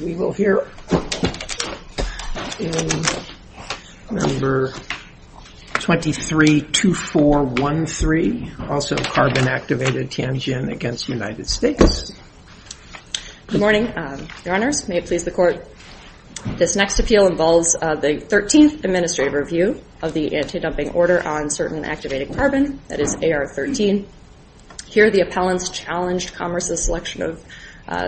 We will hear in Number 232413, also Carbon Activated Tianjin against United States. Good morning, Your Honors. May it please the Court, this next appeal involves the Thirteenth Administrative Review of the Anti-Dumping Order on Certain Activated Carbon, that is AR-13. Here the appellants challenged Commerce's selection of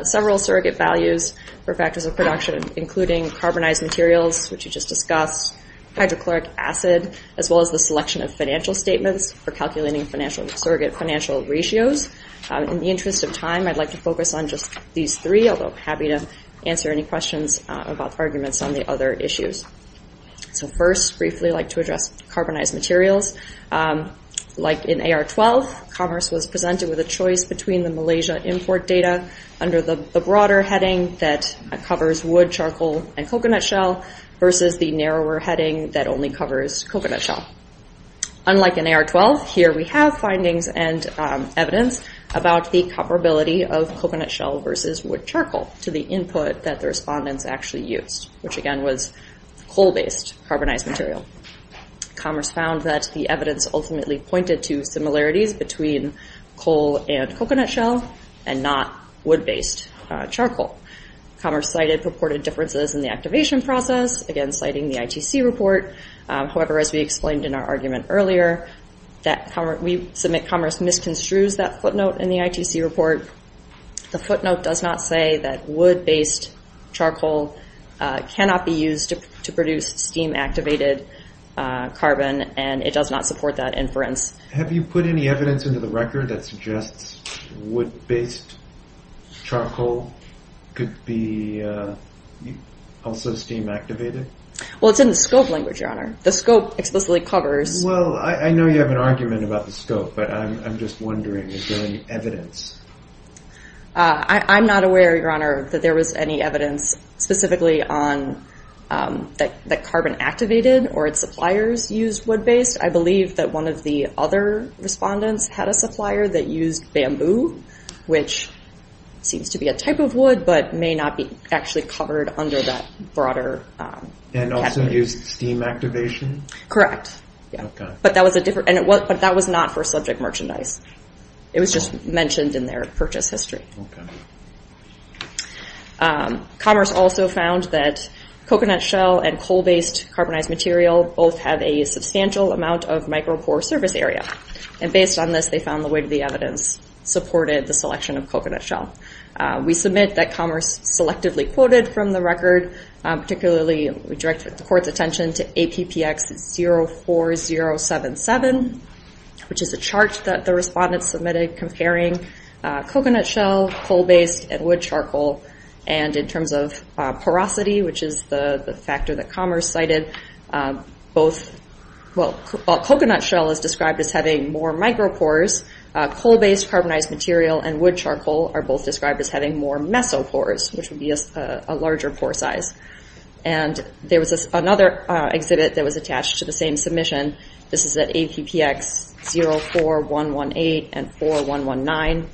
several surrogate values for factors of production, including carbonized materials, which we just discussed, hydrochloric acid, as well as the selection of financial statements for calculating financial surrogate financial ratios. In the interest of time, I'd like to focus on just these three, although happy to answer any questions about arguments on the other issues. So first, briefly, I'd like to address carbonized materials. Like in AR-12, Commerce was presented with a choice between the Malaysia import data under the broader heading that covers wood, charcoal, and coconut shell versus the narrower heading that only covers coconut shell. Unlike in AR-12, here we have findings and evidence about the comparability of coconut shell versus wood charcoal to the input that the respondents actually used, which again was coal-based carbonized material. Commerce found that the evidence ultimately pointed to similarities between coal and coconut shell and not wood-based charcoal. Commerce cited purported differences in the activation process, again citing the ITC report. However, as we explained in our argument earlier, we submit Commerce misconstrues that footnote in the ITC report. The footnote does not say that wood-based charcoal cannot be used to produce steam-activated carbon, and it does not support that inference. Have you put any evidence into the record that suggests wood-based charcoal could be also steam-activated? Well, it's in the scope language, Your Honor. The scope explicitly covers... Well, I know you have an argument about the scope, but I'm just wondering, is there any evidence? I'm not aware, Your Honor, that there was any evidence specifically on that carbon activated or its suppliers used wood-based. I believe that one of the other respondents had a supplier that used bamboo, which seems to be a type of wood but may not be actually covered under that broader category. And also used steam activation? Correct, yeah. But that was a different... But that was not for subject merchandise. It was just mentioned in their purchase history. Commerce also found that coconut shell and coal-based carbonized material both have a substantial amount of micropore surface area. And based on this, they found the weight of the evidence supported the selection of coconut shell. We submit that Commerce selectively quoted from the record, particularly we directed the Court's attention to APPX 04077, which is a chart that the respondents submitted comparing coconut shell, coal-based, and wood charcoal. And in terms of porosity, which is the factor that Commerce cited, both... Well, coconut shell is described as having more micropores. Coal-based carbonized material and wood charcoal are both described as having more mesopores, which would be a larger pore size. And there was another exhibit that was attached to the same submission. This is at APPX 04118 and 4119,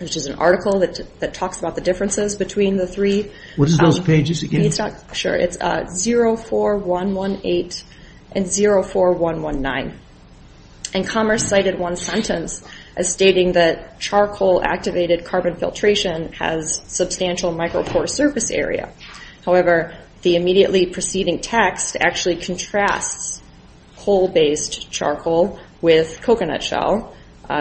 which is an article that talks about the differences between the three. What is those pages again? It's not... Sure. It's 04118 and 04119. And Commerce cited one sentence as stating that charcoal-activated carbon filtration has substantial micropore surface area. However, the immediately preceding text actually contrasts coal-based charcoal with coconut shell,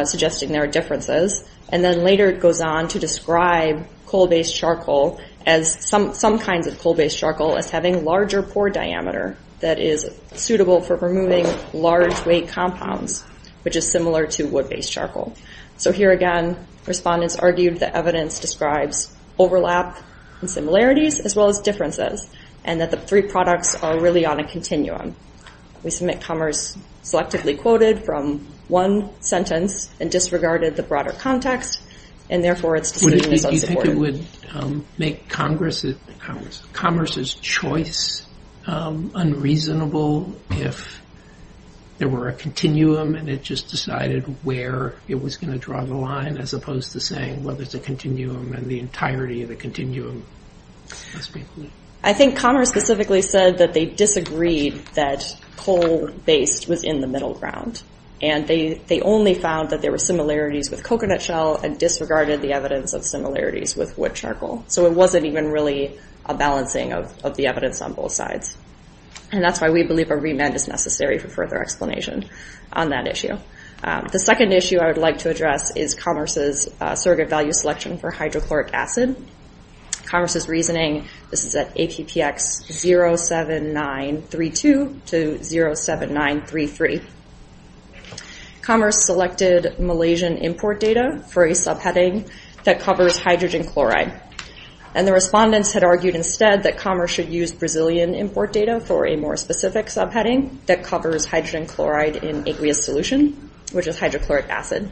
suggesting there are differences. And then later it goes on to describe coal-based charcoal as some kinds of coal-based charcoal as having larger pore diameter that is suitable for removing large weight compounds, which is similar to wood-based charcoal. So here again, respondents argued that evidence describes overlap and similarities as well as differences, and that the three products are really on a continuum. We submit Commerce selectively quoted from one sentence and disregarded the broader context, and therefore its decision is unsupported. You think it would make Commerce's choice unreasonable if there were a continuum and it just decided where it was going to draw the line, as opposed to saying, well, there's a continuum and the entirety of the continuum must be included? I think Commerce specifically said that they disagreed that coal-based was in the middle ground. And they only found that there were similarities with coconut shell and disregarded the evidence of similarities with wood charcoal. So it wasn't even really a balancing of the evidence on both sides. And that's why we believe a remand is necessary for further explanation on that issue. The second issue I would like to address is Commerce's surrogate value selection for hydrochloric acid. Commerce's reasoning, this is at APPX 07932 to 07933. Commerce selected Malaysian import data for a subheading that covers hydrogen chloride. And the respondents had argued instead that Commerce should use Brazilian import data for a more specific subheading that covers hydrogen chloride in aqueous solution, which is hydrochloric acid.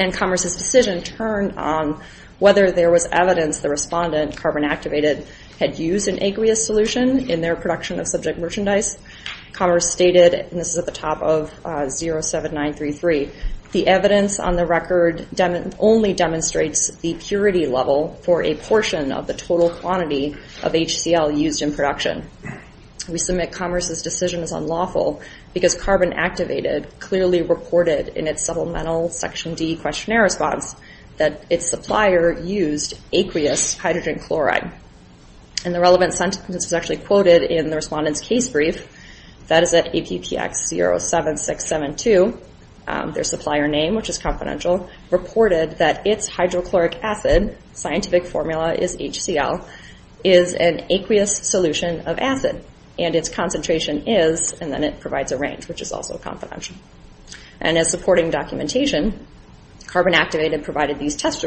And Commerce's decision turned on whether there was evidence the respondent, Carbon Activated, had used an aqueous solution in their production of subject merchandise. Commerce stated, and this is at the top of 07933, the evidence on the record only demonstrates the purity level for a portion of the total quantity of HCl used in production. We submit Commerce's decision is unlawful because Carbon Activated clearly reported in its supplemental Section D questionnaire response that its supplier used aqueous hydrogen chloride. And the relevant sentence was actually quoted in the respondent's case brief, that is at scientific formula is HCl is an aqueous solution of acid and its concentration is, and then it provides a range, which is also confidential. And as supporting documentation, Carbon Activated provided these test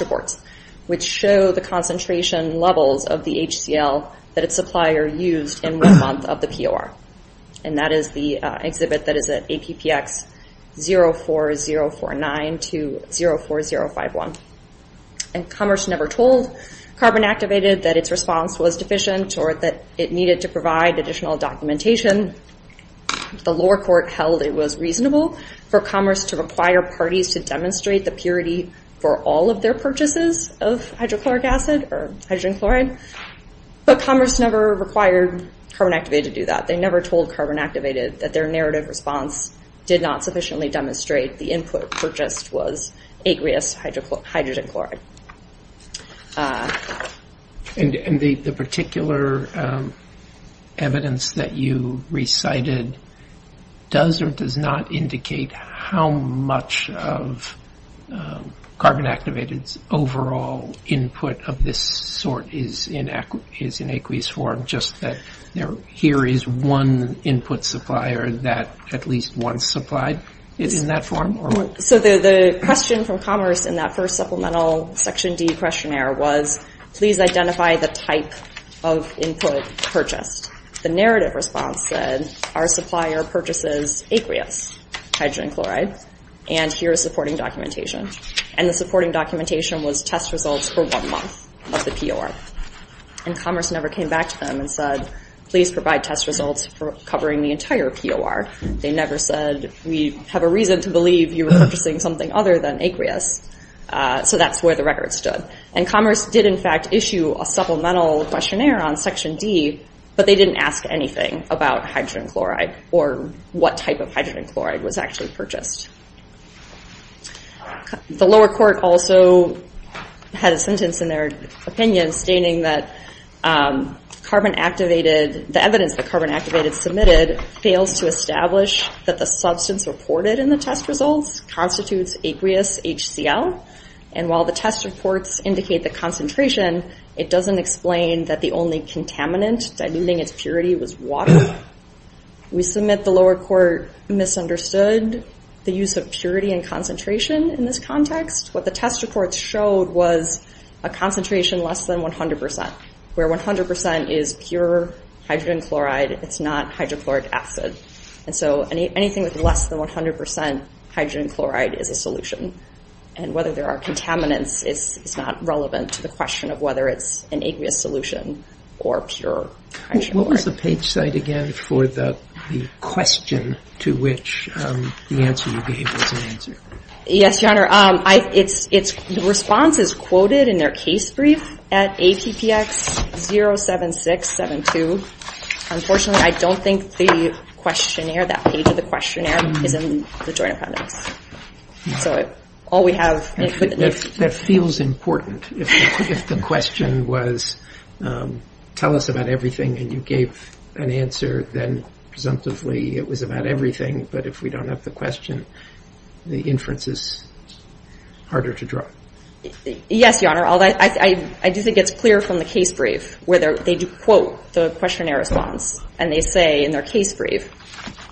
reports, which show the concentration levels of the HCl that its supplier used in one month of the POR. And that is the exhibit that is at APPX 04049 to 04051. And Commerce never told Carbon Activated that its response was deficient or that it needed to provide additional documentation. The lower court held it was reasonable for Commerce to require parties to demonstrate the purity for all of their purchases of hydrochloric acid or hydrogen chloride. But Commerce never required Carbon Activated to do that. They never told Carbon Activated that their narrative response did not sufficiently demonstrate the input purchased was aqueous hydrogen chloride. And the particular evidence that you recited does or does not indicate how much of Carbon Activated's overall input of this sort is in aqueous form, just that here is one input supplier that at least one supplied in that form? So the question from Commerce in that first supplemental Section D questionnaire was, please identify the type of input purchased. The narrative response said, our supplier purchases aqueous hydrogen chloride, and here is supporting documentation. And the supporting documentation was test results for one month of the POR. And Commerce never came back to them and said, please provide test results for covering the entire POR. They never said, we have a reason to believe you were purchasing something other than aqueous. So that's where the record stood. And Commerce did in fact issue a supplemental questionnaire on Section D, but they didn't ask anything about hydrogen chloride or what type of hydrogen chloride was actually purchased. The lower court also had a sentence in their opinion stating that the evidence that Carbon fails to establish that the substance reported in the test results constitutes aqueous HCl. And while the test reports indicate the concentration, it doesn't explain that the only contaminant diluting its purity was water. We submit the lower court misunderstood the use of purity and concentration in this context. What the test reports showed was a concentration less than 100%, where 100% is pure hydrogen chloride, it's not hydrochloric acid. And so anything with less than 100% hydrogen chloride is a solution. And whether there are contaminants is not relevant to the question of whether it's an aqueous solution or pure. What was the page site again for the question to which the answer you gave was an answer? Yes, Your Honor, the response is quoted in their case brief at APPX 07672. Unfortunately, I don't think the questionnaire, that page of the questionnaire, is in the Joint Appendix. So all we have... That feels important. If the question was tell us about everything and you gave an answer, then presumptively it was about everything. But if we don't have the question, the inference is harder to draw. Yes, Your Honor, I do think it's clear from the case brief where they do quote the questionnaire response and they say in their case brief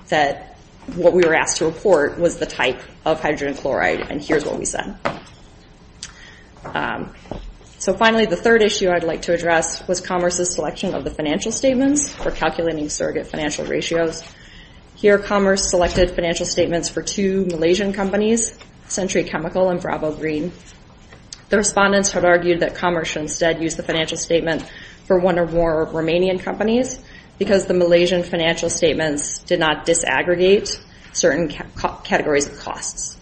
that what we were asked to report was the type of hydrogen chloride. And here's what we said. So finally, the third issue I'd like to address was Commerce's selection of the financial statements for calculating surrogate financial ratios. Here, Commerce selected financial statements for two Malaysian companies, Century Chemical and Bravo Green. The respondents had argued that Commerce should instead use the financial statement for one or more Romanian companies because the Malaysian financial statements did not disaggregate certain categories of costs.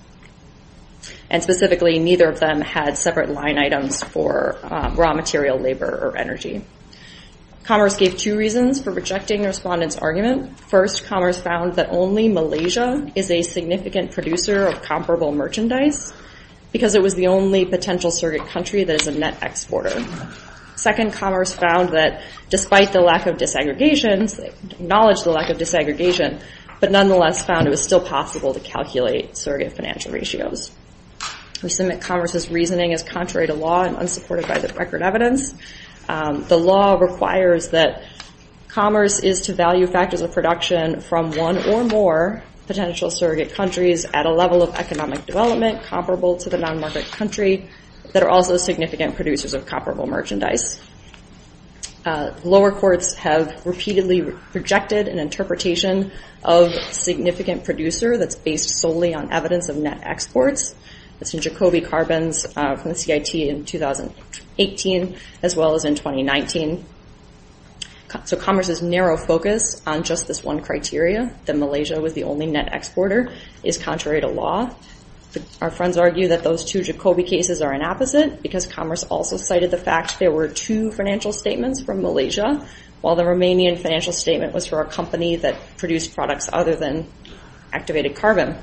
And specifically, neither of them had separate line items for raw material labor or energy. Commerce gave two reasons for rejecting the respondents' argument. First, Commerce found that only Malaysia is a significant producer of comparable merchandise because it was the only potential surrogate country that is a net exporter. Second, Commerce found that despite the lack of disaggregations, they acknowledged the lack of disaggregation, but nonetheless found it was still possible to calculate surrogate financial ratios. We assume that Commerce's reasoning is contrary to law and unsupported by the record evidence. The law requires that Commerce is to value factors of production from one or more potential surrogate countries at a level of economic development comparable to the non-market country that are also significant producers of comparable merchandise. Lower courts have repeatedly rejected an interpretation of significant producer that's based solely on evidence of net exports. That's in Jacobi carbons from the CIT in 2018 as well as in 2019. So Commerce's narrow focus on just this one criteria, that Malaysia was the only net exporter, is contrary to law. Our friends argue that those two Jacobi cases are an opposite because Commerce also cited the fact there were two financial statements from Malaysia while the Romanian financial statement was for a company that produced products other than activated carbon.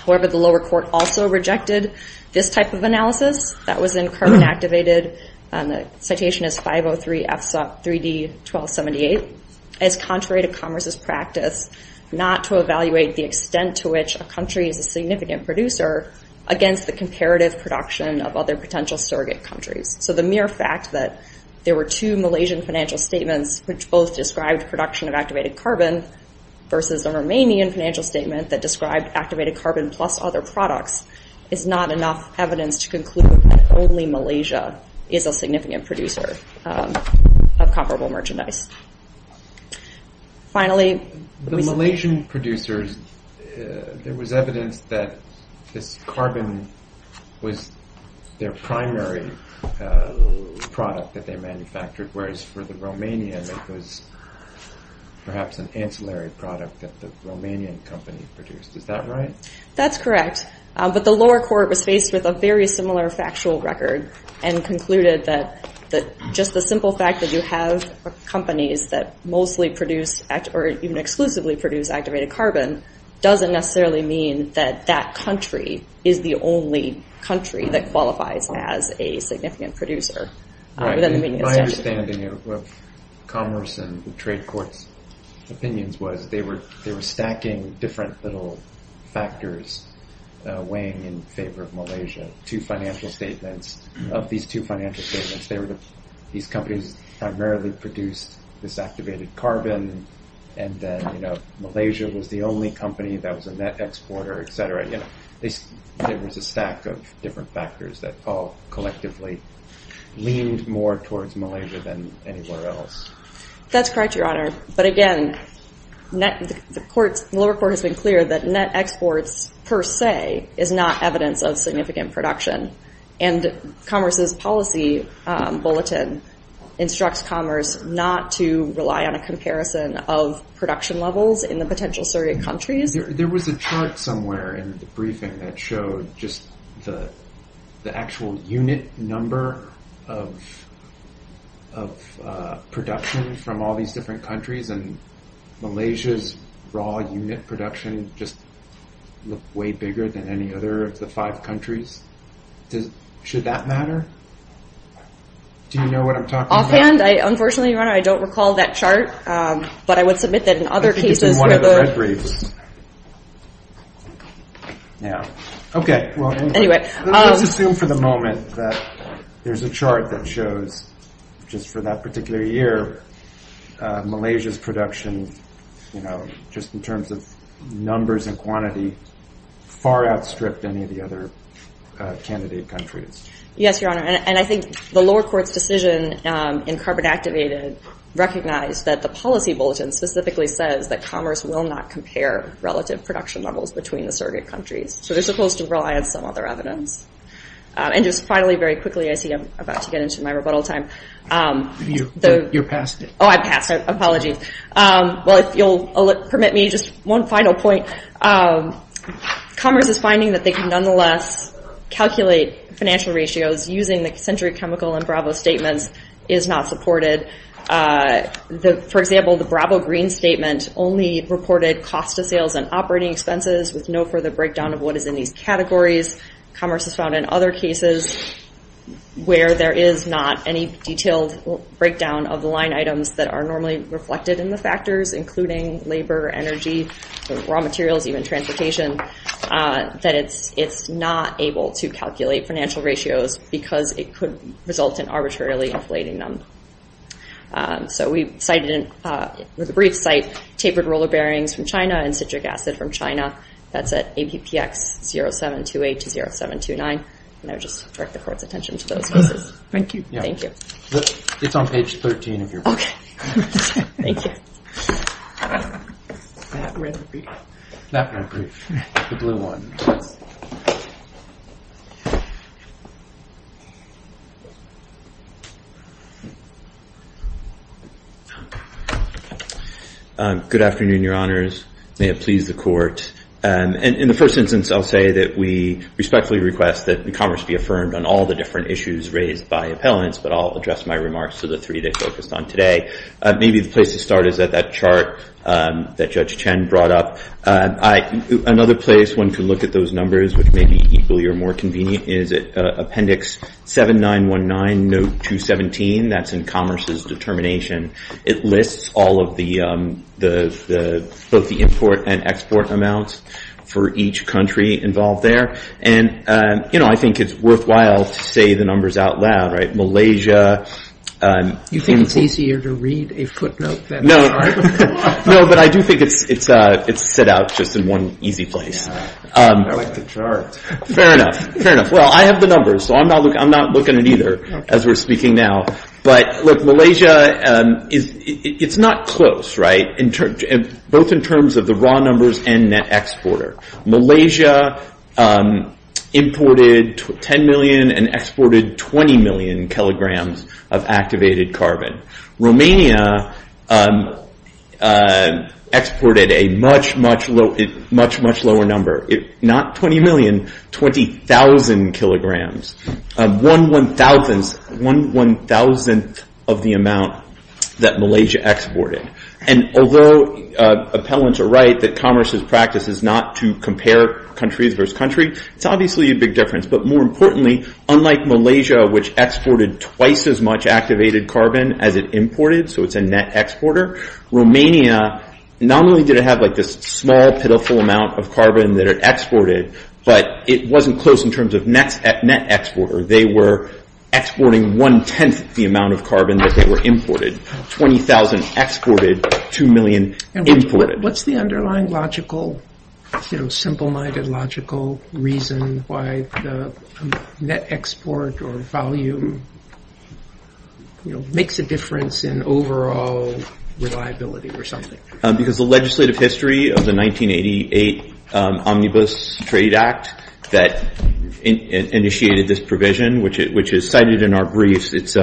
However, the lower court also rejected this type of analysis. That was in carbon-activated, citation is 503 FSOP 3D 1278, as contrary to Commerce's practice not to evaluate the extent to which a country is a significant producer against the comparative production of other potential surrogate countries. So the mere fact that there were two Malaysian financial statements which both described production of activated carbon versus the Romanian financial statement that described activated carbon plus other products is not enough evidence to conclude that only Malaysia is a significant producer of comparable merchandise. Finally, the Malaysian producers, there was evidence that this carbon was their primary uh product that they manufactured whereas for the Romanian it was perhaps an ancillary product that the Romanian company produced. Is that right? That's correct, but the lower court was faced with a very similar factual record and concluded that that just the simple fact that you have companies that mostly produce or even exclusively produce activated carbon doesn't necessarily mean that that country is the only country that qualifies as a significant producer. My understanding of Commerce and the trade court's opinions was they were they were stacking different little factors weighing in favor of Malaysia. Two financial statements of these two financial statements they were these companies primarily produced this activated carbon and then you know Malaysia was the only company that was a net exporter etc. They there was a stack of different factors that all collectively leaned more towards Malaysia than anywhere else. That's correct, your honor, but again net the courts lower court has been clear that net exports per se is not evidence of significant production and Commerce's policy bulletin instructs Commerce not to rely on a comparison of production levels in the potential Syrian countries. There was a chart somewhere in the briefing that showed just the the actual unit number of of production from all these different countries and Malaysia's raw unit production just looked way bigger than any other of the five countries. Should that matter? Do you know what I'm talking about? Offhand, unfortunately, your honor, I don't recall that chart, but I would submit that in one of the red briefs. Yeah, okay. Well, anyway, let's assume for the moment that there's a chart that shows just for that particular year Malaysia's production, you know, just in terms of numbers and quantity far outstripped any of the other candidate countries. Yes, your honor, and I think the lower courts decision in carbon activated recognize that the policy bulletin specifically says that Commerce will not compare relative production levels between the surrogate countries. So they're supposed to rely on some other evidence. And just finally, very quickly, I see I'm about to get into my rebuttal time. You're past it. Oh, I passed it. Apologies. Well, if you'll permit me, just one final point. Commerce is finding that they can nonetheless calculate financial ratios using the century chemical and Bravo statements is not supported. For example, the Bravo green statement only reported cost of sales and operating expenses with no further breakdown of what is in these categories. Commerce has found in other cases where there is not any detailed breakdown of the line items that are normally reflected in the factors, including labor, energy, raw materials, even transportation, that it's not able to calculate financial ratios because it could result in arbitrarily inflating them. So we cited with a brief site, tapered roller bearings from China and citric acid from China. That's at ABPX0728 to 0729. And I would just direct the court's attention to those cases. Thank you. Thank you. It's on page 13 of your book. Okay. Thank you. That will be the blue one. Good afternoon, Your Honors. May it please the court. And in the first instance, I'll say that we respectfully request that Commerce be affirmed on all the different issues raised by appellants. But I'll address my remarks to the three they focused on today. Maybe the place to start is at that chart that Judge Chen brought up. Another place one can look at those numbers, which may be equally or more convenient, is Appendix 7919, Note 217. That's in Commerce's determination. It lists all of the, both the import and export amounts for each country involved there. And I think it's worthwhile to say the numbers out loud, right? Malaysia. You think it's easier to read a footnote than a chart? No, but I do think it's set out just in one easy place. I like the chart. Fair enough. Fair enough. I have the numbers, so I'm not looking at either as we're speaking now. But look, Malaysia, it's not close, right? Both in terms of the raw numbers and net exporter. Malaysia imported 10 million and exported 20 million kilograms of activated carbon. Romania exported a much, much lower number. Not 20 million, 20,000 kilograms. One one-thousandth, one one-thousandth of the amount that Malaysia exported. And although appellants are right that Commerce's practice is not to compare countries versus country, it's obviously a big difference. But more importantly, unlike Malaysia, which exported twice as much activated carbon as it imported, so it's a net exporter. Romania not only did it have this small, pitiful amount of carbon that it exported, but it wasn't close in terms of net exporter. They were exporting one-tenth the amount of carbon that they were imported. 20,000 exported, 2 million imported. What's the underlying logical, simple-minded logical reason why the net export or volume makes a difference in overall reliability or something? Because the legislative history of the 1988 Omnibus Trade Act that initiated this provision, which is cited in our briefs, it's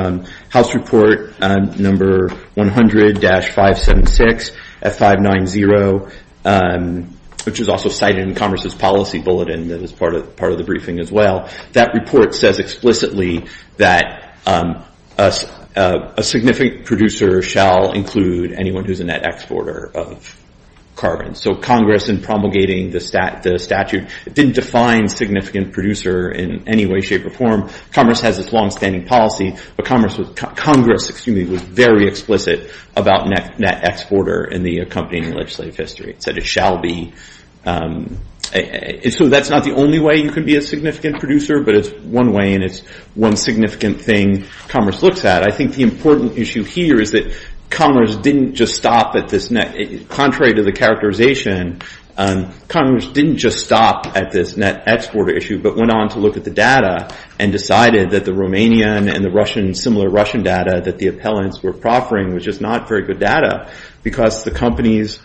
House Report number 100-576, F590, which is also cited in Commerce's policy bulletin that is part of the briefing as well. That report says explicitly that a significant producer shall include anyone who's a net exporter of carbon. So Congress, in promulgating the statute, didn't define significant producer in any way, shape, or form. Commerce has this long-standing policy, but Congress was very explicit about net exporter in the accompanying legislative history. It said it shall be. So that's not the only way you can be a significant producer, but it's one way, and it's one significant thing Commerce looks at. I think the important issue here is that Commerce didn't just stop at this net. Contrary to the characterization, Congress didn't just stop at this net exporter issue, but went on to look at the data and decided that the Romanian and the similar Russian data that the appellants were proffering was just not very good data because the companies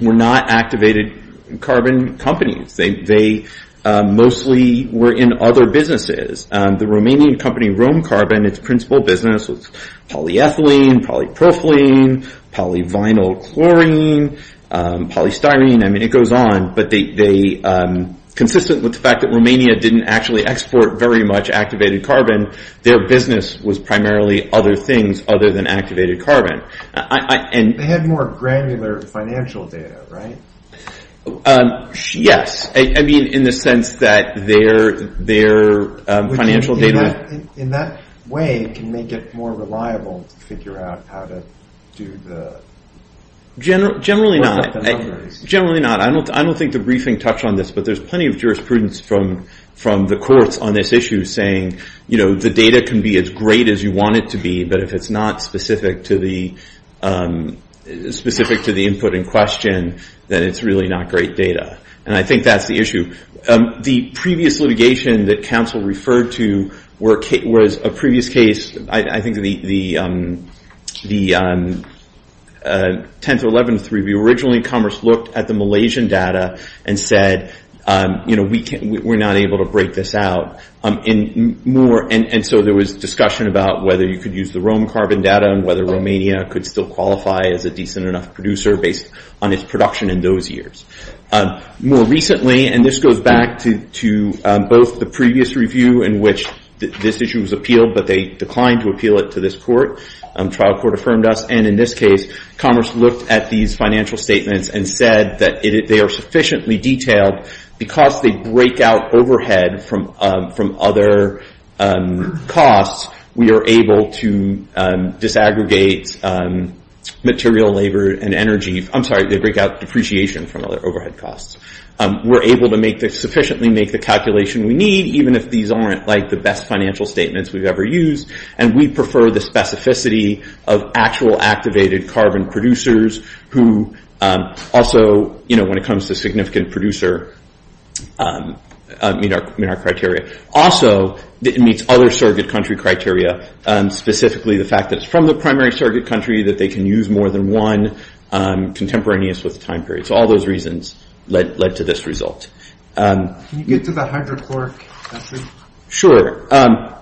were not activated carbon companies. They mostly were in other businesses. The Romanian company, Rome Carbon, its principal business was polyethylene, polypropylene, polyvinylchlorine, polystyrene. I mean, it goes on, but consistent with the fact that Romania didn't actually export very much activated carbon, their business was primarily other things other than activated carbon. They had more granular financial data, right? Yes, I mean, in the sense that their financial data- In that way, it can make it more reliable to figure out how to do the- Generally not. Generally not. I don't think the briefing touched on this, but there's plenty of jurisprudence from the courts on this issue saying the data can be as great as you want it to be, but if it's not specific to the input in question, then it's really not great data. And I think that's the issue. The previous litigation that counsel referred to was a previous case, I think the 10th or 11th review, originally Commerce looked at the Malaysian data and said, we're not able to break this out. And so there was discussion about whether you could use the Rome carbon data and whether Romania could still qualify as a decent enough producer based on its production in those years. More recently, and this goes back to both the previous review in which this issue was appealed, but they declined to appeal it to this court. Trial court affirmed us. And in this case, Commerce looked at these financial statements and said that they are able to break out depreciation from overhead costs. We're able to sufficiently make the calculation we need, even if these aren't the best financial statements we've ever used. And we prefer the specificity of actual activated carbon producers who also, when it comes to significant producer, meet our criteria. Also, it meets other surrogate country criteria, specifically the fact that it's from the primary surrogate country, that they can use more than one contemporaneous with the time period. So all those reasons led to this result. Can you get to the hydrochloric acid? Sure. On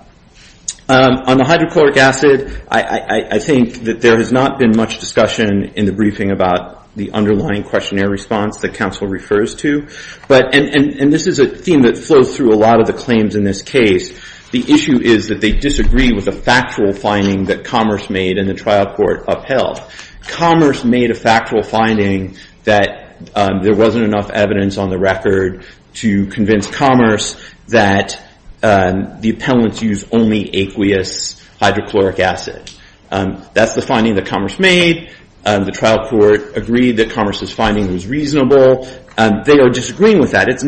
the hydrochloric acid, I think that there has not been much discussion in the briefing about the underlying questionnaire response that counsel refers to. And this is a theme that flows through a lot of the claims in this case. The issue is that they disagree with a factual finding that Commerce made and the trial court upheld. Commerce made a factual finding that there wasn't enough evidence on the record to convince Commerce that the appellants use only aqueous hydrochloric acid. That's the finding that Commerce made. The trial court agreed that Commerce's finding was reasonable. They are disagreeing with that. It's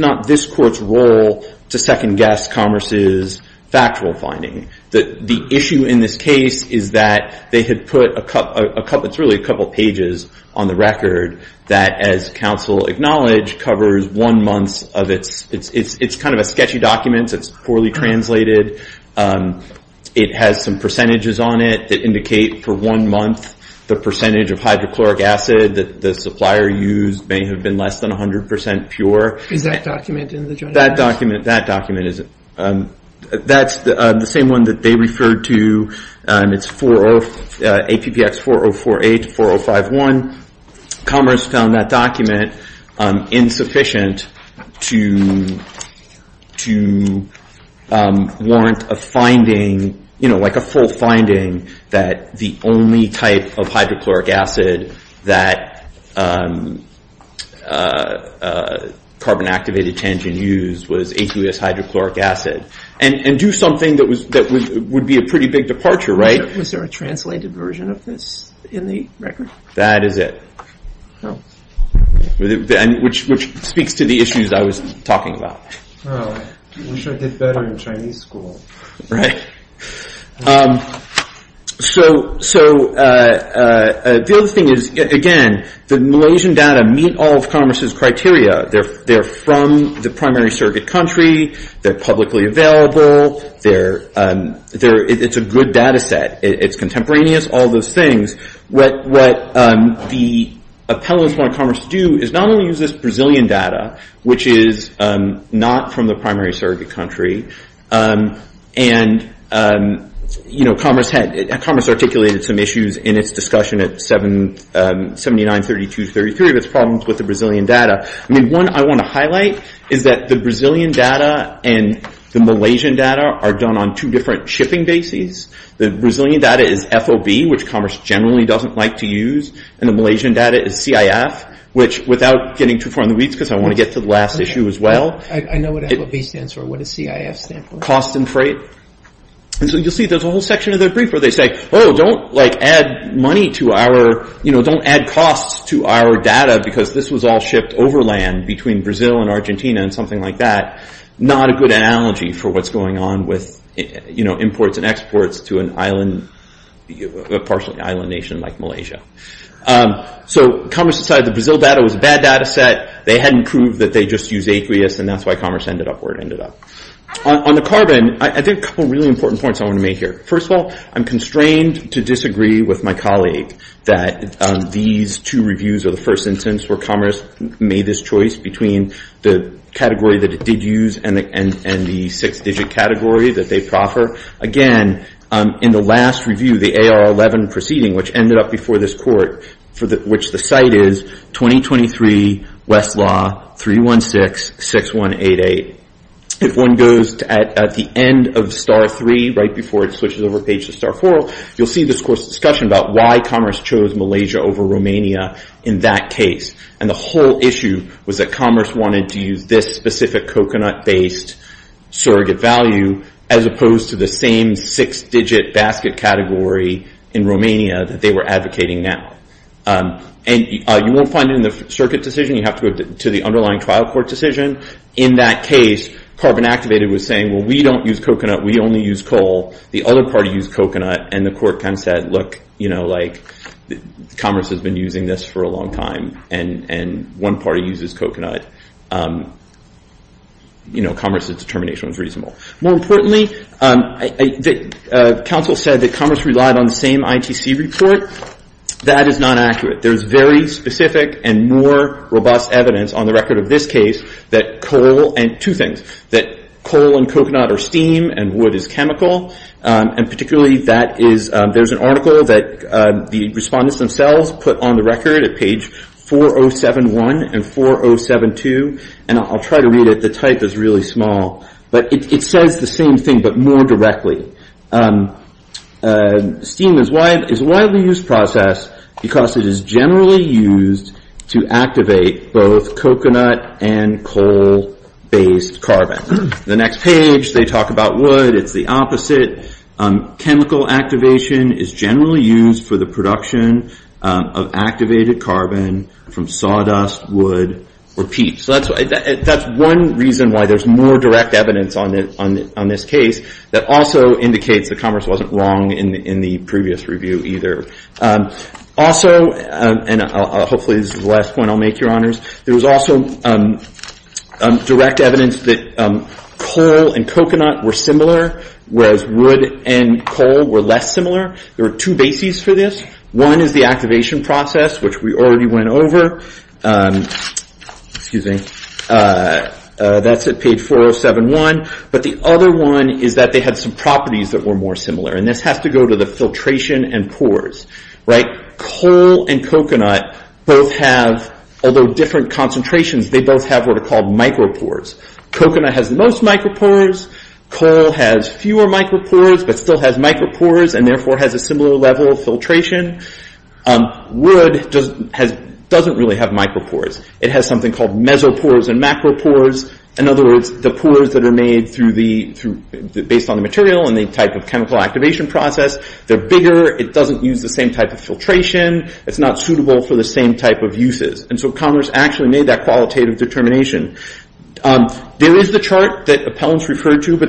not this court's role to second guess Commerce's factual finding. The issue in this case is that they had put a couple of pages on the record that, as counsel acknowledged, covers one month of it. It's kind of a sketchy document. It's poorly translated. It has some percentages on it that indicate for one month the percentage of hydrochloric acid that the supplier used may have been less than 100% pure. Is that document in the journal? That document is. That's the same one that they referred to. It's APPX 4048-4051. Commerce found that document insufficient to warrant a finding, like a full finding, that the only type of hydrochloric acid that carbon-activated tangent used was aqueous hydrochloric acid, and do something that would be a pretty big departure, right? Was there a translated version of this in the record? That is it, which speaks to the issues I was talking about. Oh, I wish I did better in Chinese school. Right. So the other thing is, again, the Malaysian data meet all of Commerce's criteria. They're from the primary surrogate country. They're publicly available. It's a good data set. It's contemporaneous, all those things. What the appellants want Commerce to do is not only use this Brazilian data, which is not from the primary surrogate country, and Commerce articulated some issues in its discussion at 79-32-33, but it's problems with the Brazilian data. I mean, one I want to highlight is that the Brazilian data and the Malaysian data are done on two different shipping bases. The Brazilian data is FOB, which Commerce generally doesn't like to use, and the Malaysian data is CIF, which without getting too far in the weeds, because I want to get to the last issue as well. I know what FOB stands for. What is CIF stand for? Cost and Freight. And so you'll see there's a whole section of their brief where they say, oh, don't add money to our, don't add costs to our data because this was all shipped over land between Brazil and Argentina and something like that. Not a good analogy for what's going on with imports and exports to a partially island nation like Malaysia. So Commerce decided the Brazil data was a bad data set. They hadn't proved that they just use aqueous, and that's why Commerce ended up where it ended up. On the carbon, I think a couple of really important points I want to make here. First of all, I'm constrained to disagree with my colleague that these two reviews are the first instance where Commerce made this choice between the category that it did use and the six-digit category that they proffer. Again, in the last review, the AR11 proceeding, which ended up before this court, for which the site is 2023 Westlaw 316-6188. If one goes at the end of star three, right before it switches over page to star four, you'll see this course discussion about why Commerce chose Malaysia over Romania in that case. And the whole issue was that Commerce wanted to use this specific coconut-based surrogate value as opposed to the same six-digit basket category in Romania that they were advocating now. And you won't find it in the circuit decision. You have to go to the underlying trial court decision. In that case, Carbon Activated was saying, well, we don't use coconut. We only use coal. The other party used coconut, and the court kind of said, look, Commerce has been using this for a long time, and one party uses coconut. Commerce's determination was reasonable. More importantly, Council said that Commerce relied on the same ITC report. That is not accurate. There's very specific and more robust evidence on the record of this case that coal, and two things, that coal and coconut are steam, and wood is chemical. And particularly, there's an article that the respondents themselves put on the record at page 4071 and 4072, and I'll try to read it. The type is really small. But it says the same thing, but more directly. Steam is a widely used process because it is generally used to activate both coconut and coal-based carbon. The next page, they talk about wood. It's the opposite. Chemical activation is generally used for the production of activated carbon from sawdust, wood, or peat. So that's one reason why there's more direct evidence on this case that also indicates that Commerce wasn't wrong in the previous review either. Also, and hopefully this is the last point I'll make, your honors. There was also direct evidence that coal and coconut were similar, whereas wood and coal were less similar. There were two bases for this. One is the activation process, which we already went over. Excuse me. That's at page 4071. But the other one is that they had some properties that were more similar. And this has to go to the filtration and pours, right? Coal and coconut both have, although different concentrations, they both have what are called micropores. Coconut has the most micropores. Coal has fewer micropores, but still has micropores and therefore has a similar level of filtration. Wood doesn't really have micropores. It has something called mesopores and macropores. In other words, the pores that are made based on the material and the type of chemical activation process. They're bigger. It doesn't use the same type of filtration. It's not suitable for the same type of uses. And so Commerce actually made that qualitative determination. There is the chart that appellants referred to, but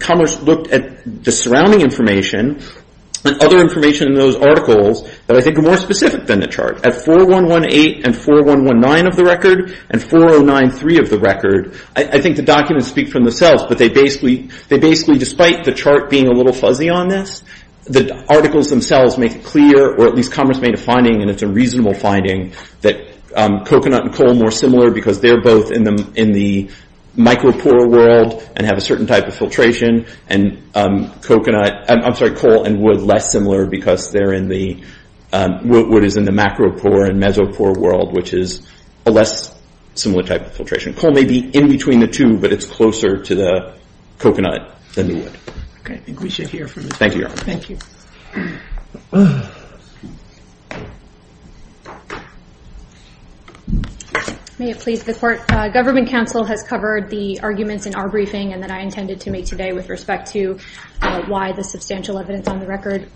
Commerce looked at the surrounding information and other information in those articles that I think are more specific than the chart. At 4118 and 4119 of the record and 4093 of the record, I think the documents speak for themselves, but they basically, despite the chart being a little fuzzy on this, the articles themselves make it clear, or at least Commerce made a finding, and it's a reasonable finding, that coconut and coal are more similar because they're both in the micropore world and have a certain type of filtration. I'm sorry, coal and wood less similar because wood is in the macropore and mesopore world, which is a less similar type of filtration. Coal may be in between the two, but it's closer to the coconut than the wood. Okay, I think we should hear from you. Thank you, Your Honor. Thank you. May it please the Court, Government Counsel has covered the arguments in our briefing and that I intended to make today with respect to why the substantial evidence on the record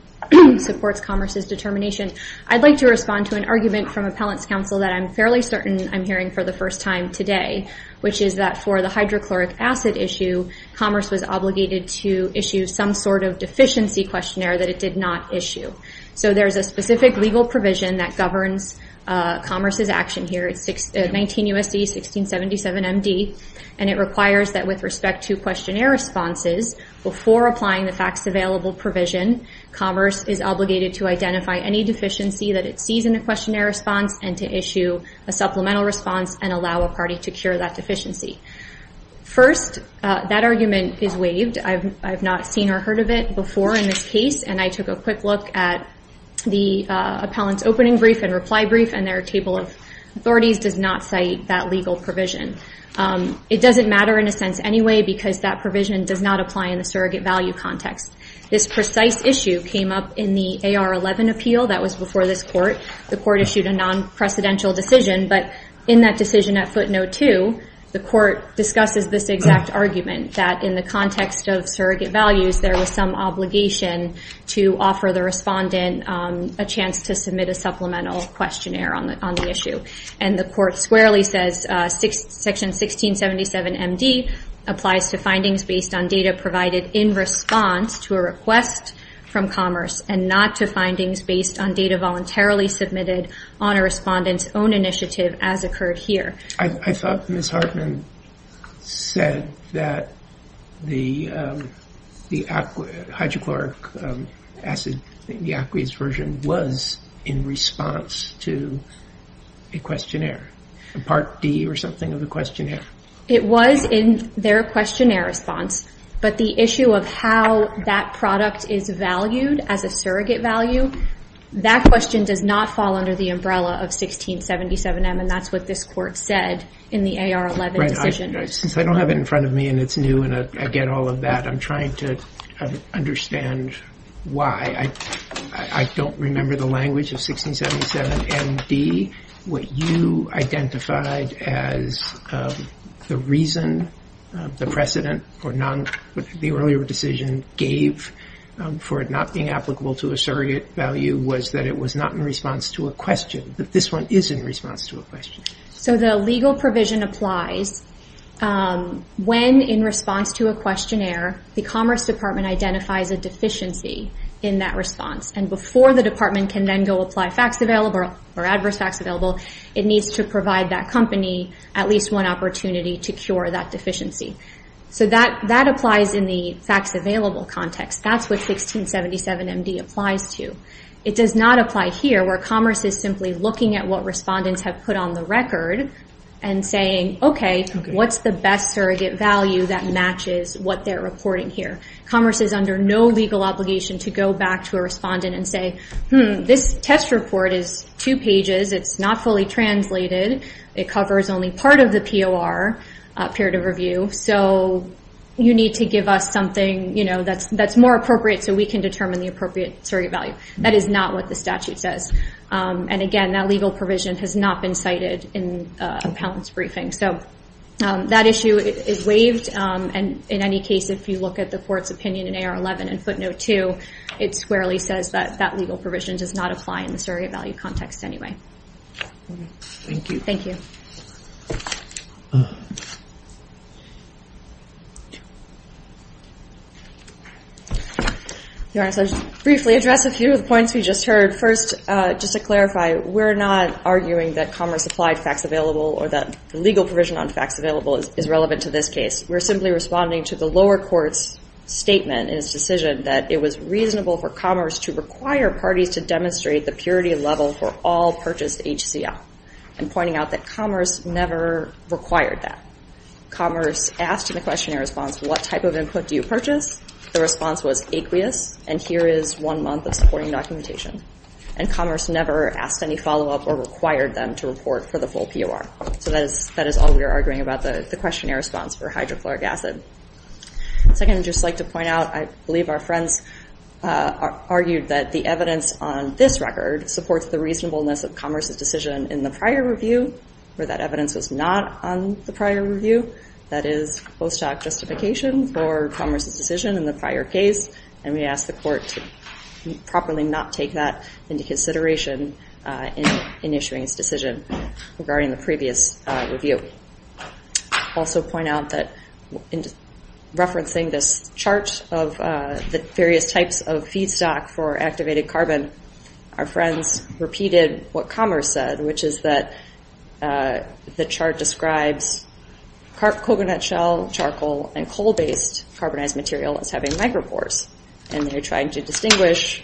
supports Commerce's determination. I'd like to respond to an argument from Appellant's Counsel that I'm fairly certain I'm hearing for the first time today, which is that for the hydrochloric acid issue, Commerce was obligated to issue some sort of deficiency questionnaire that it did not issue. So there's a specific legal provision that governs Commerce's action here. It's 19 U.S.C. 1677 M.D., and it requires that with respect to questionnaire responses, before applying the facts available provision, Commerce is obligated to identify any deficiency that it sees in a questionnaire response and to issue a supplemental response and allow a party to cure that deficiency. First, that argument is waived. I've not seen or heard of it before in this case, and I took a quick look at the Appellant's opening brief and reply brief, and their table of authorities does not cite that legal provision. It doesn't matter in a sense anyway because that provision does not apply in the surrogate value context. This precise issue came up in the AR-11 appeal that was before this Court. The Court issued a non-precedential decision, but in that decision at footnote two, the Court discusses this exact argument, that in the context of surrogate values, there was some obligation to offer the respondent a chance to submit a supplemental questionnaire on the issue. And the Court squarely says Section 1677 M.D. applies to findings based on data provided in response to a request from Commerce and not to findings based on data voluntarily submitted on a respondent's own initiative as occurred here. I thought Ms. Hartman said that the hydrochloric acid, the aqueous version was in response to a questionnaire, a Part D or something of a questionnaire. It was in their questionnaire response, but the issue of how that product is valued as a surrogate value, that question does not fall under the umbrella of 1677 M. That's what this Court said in the AR11 decision. Since I don't have it in front of me and it's new and I get all of that, I'm trying to understand why. I don't remember the language of 1677 M.D. What you identified as the reason, the precedent or the earlier decision gave for it not being applicable to a surrogate value was that it was not in response to a question, but this one is in response to a question. So the legal provision applies when in response to a questionnaire, the Commerce Department identifies a deficiency in that response and before the department can then go apply facts available or adverse facts available, it needs to provide that company at least one opportunity to cure that deficiency. So that applies in the facts available context. That's what 1677 M.D. applies to. It does not apply here where Commerce is simply looking at what respondents have put on the record and saying, okay, what's the best surrogate value that matches what they're reporting here? Commerce is under no legal obligation to go back to a respondent and say, this test report is two pages. It's not fully translated. It covers only part of the POR period of review. So you need to give us something that's more appropriate so we can determine the appropriate surrogate value. That is not what the statute says. And again, that legal provision has not been cited in a balance briefing. So that issue is waived. And in any case, if you look at the court's opinion in AR11 and footnote two, it squarely says that that legal provision does not apply in the surrogate value context anyway. Thank you. Thank you. Your Honor, I'll just briefly address a few of the points we just heard. First, just to clarify, we're not arguing that Commerce applied facts available or that the legal provision on facts available is relevant to this case. We're simply responding to the lower court's statement in its decision that it was reasonable for Commerce to require parties to demonstrate the purity level for all purchased HCL. And pointing out that Commerce never required that. Commerce asked in the questionnaire response, what type of input do you purchase? The response was aqueous. And here is one month of supporting documentation. And Commerce never asked any follow-up or required them to report for the full POR. So that is all we are arguing about the questionnaire response for hydrochloric acid. Second, I'd just like to point out, I believe our friends argued that the evidence on this record supports the reasonableness of Commerce's decision in the prior review, where that evidence was not on the prior review. That is post-hoc justification for Commerce's decision in the prior case. And we ask the court to properly not take that into consideration in issuing this decision regarding the previous review. Also point out that in referencing this chart of the various types of feedstock for activated carbon, our friends repeated what Commerce said, which is that the chart describes coconut shell charcoal and coal-based carbonized material as having micropores. And they're trying to distinguish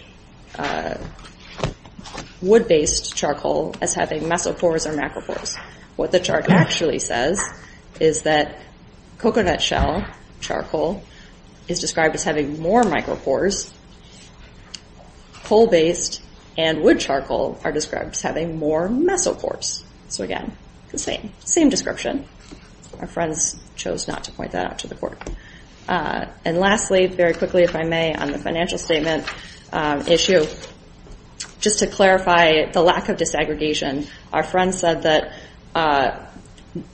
wood-based charcoal as having mesophores or macrophores. What the chart actually says is that coconut shell charcoal is described as having more micropores, coal-based and wood charcoal are described as having more mesopores. So again, the same description. Our friends chose not to point that out to the court. And lastly, very quickly, if I may, on the financial statement issue, just to clarify the lack of disaggregation, our friends said that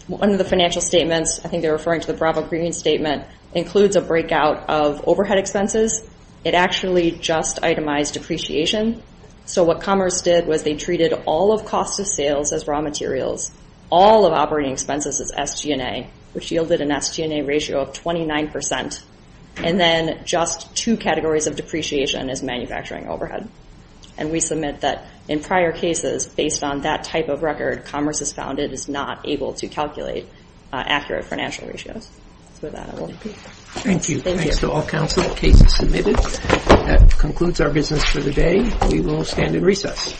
one of the financial statements, I think they're referring to the Bravo Green Statement, includes a breakout of overhead expenses. It actually just itemized depreciation. So what Commerce did was they treated all of cost of sales as raw materials, all of operating expenses as SG&A, which yielded an SG&A ratio of 29%. And then just two categories of depreciation as manufacturing overhead. And we submit that in prior cases, based on that type of record, Commerce has found it is not able to calculate accurate financial ratios. That's where that will be. Thank you. Thanks to all counsel. Case is submitted. That concludes our business for the day. We will stand in recess.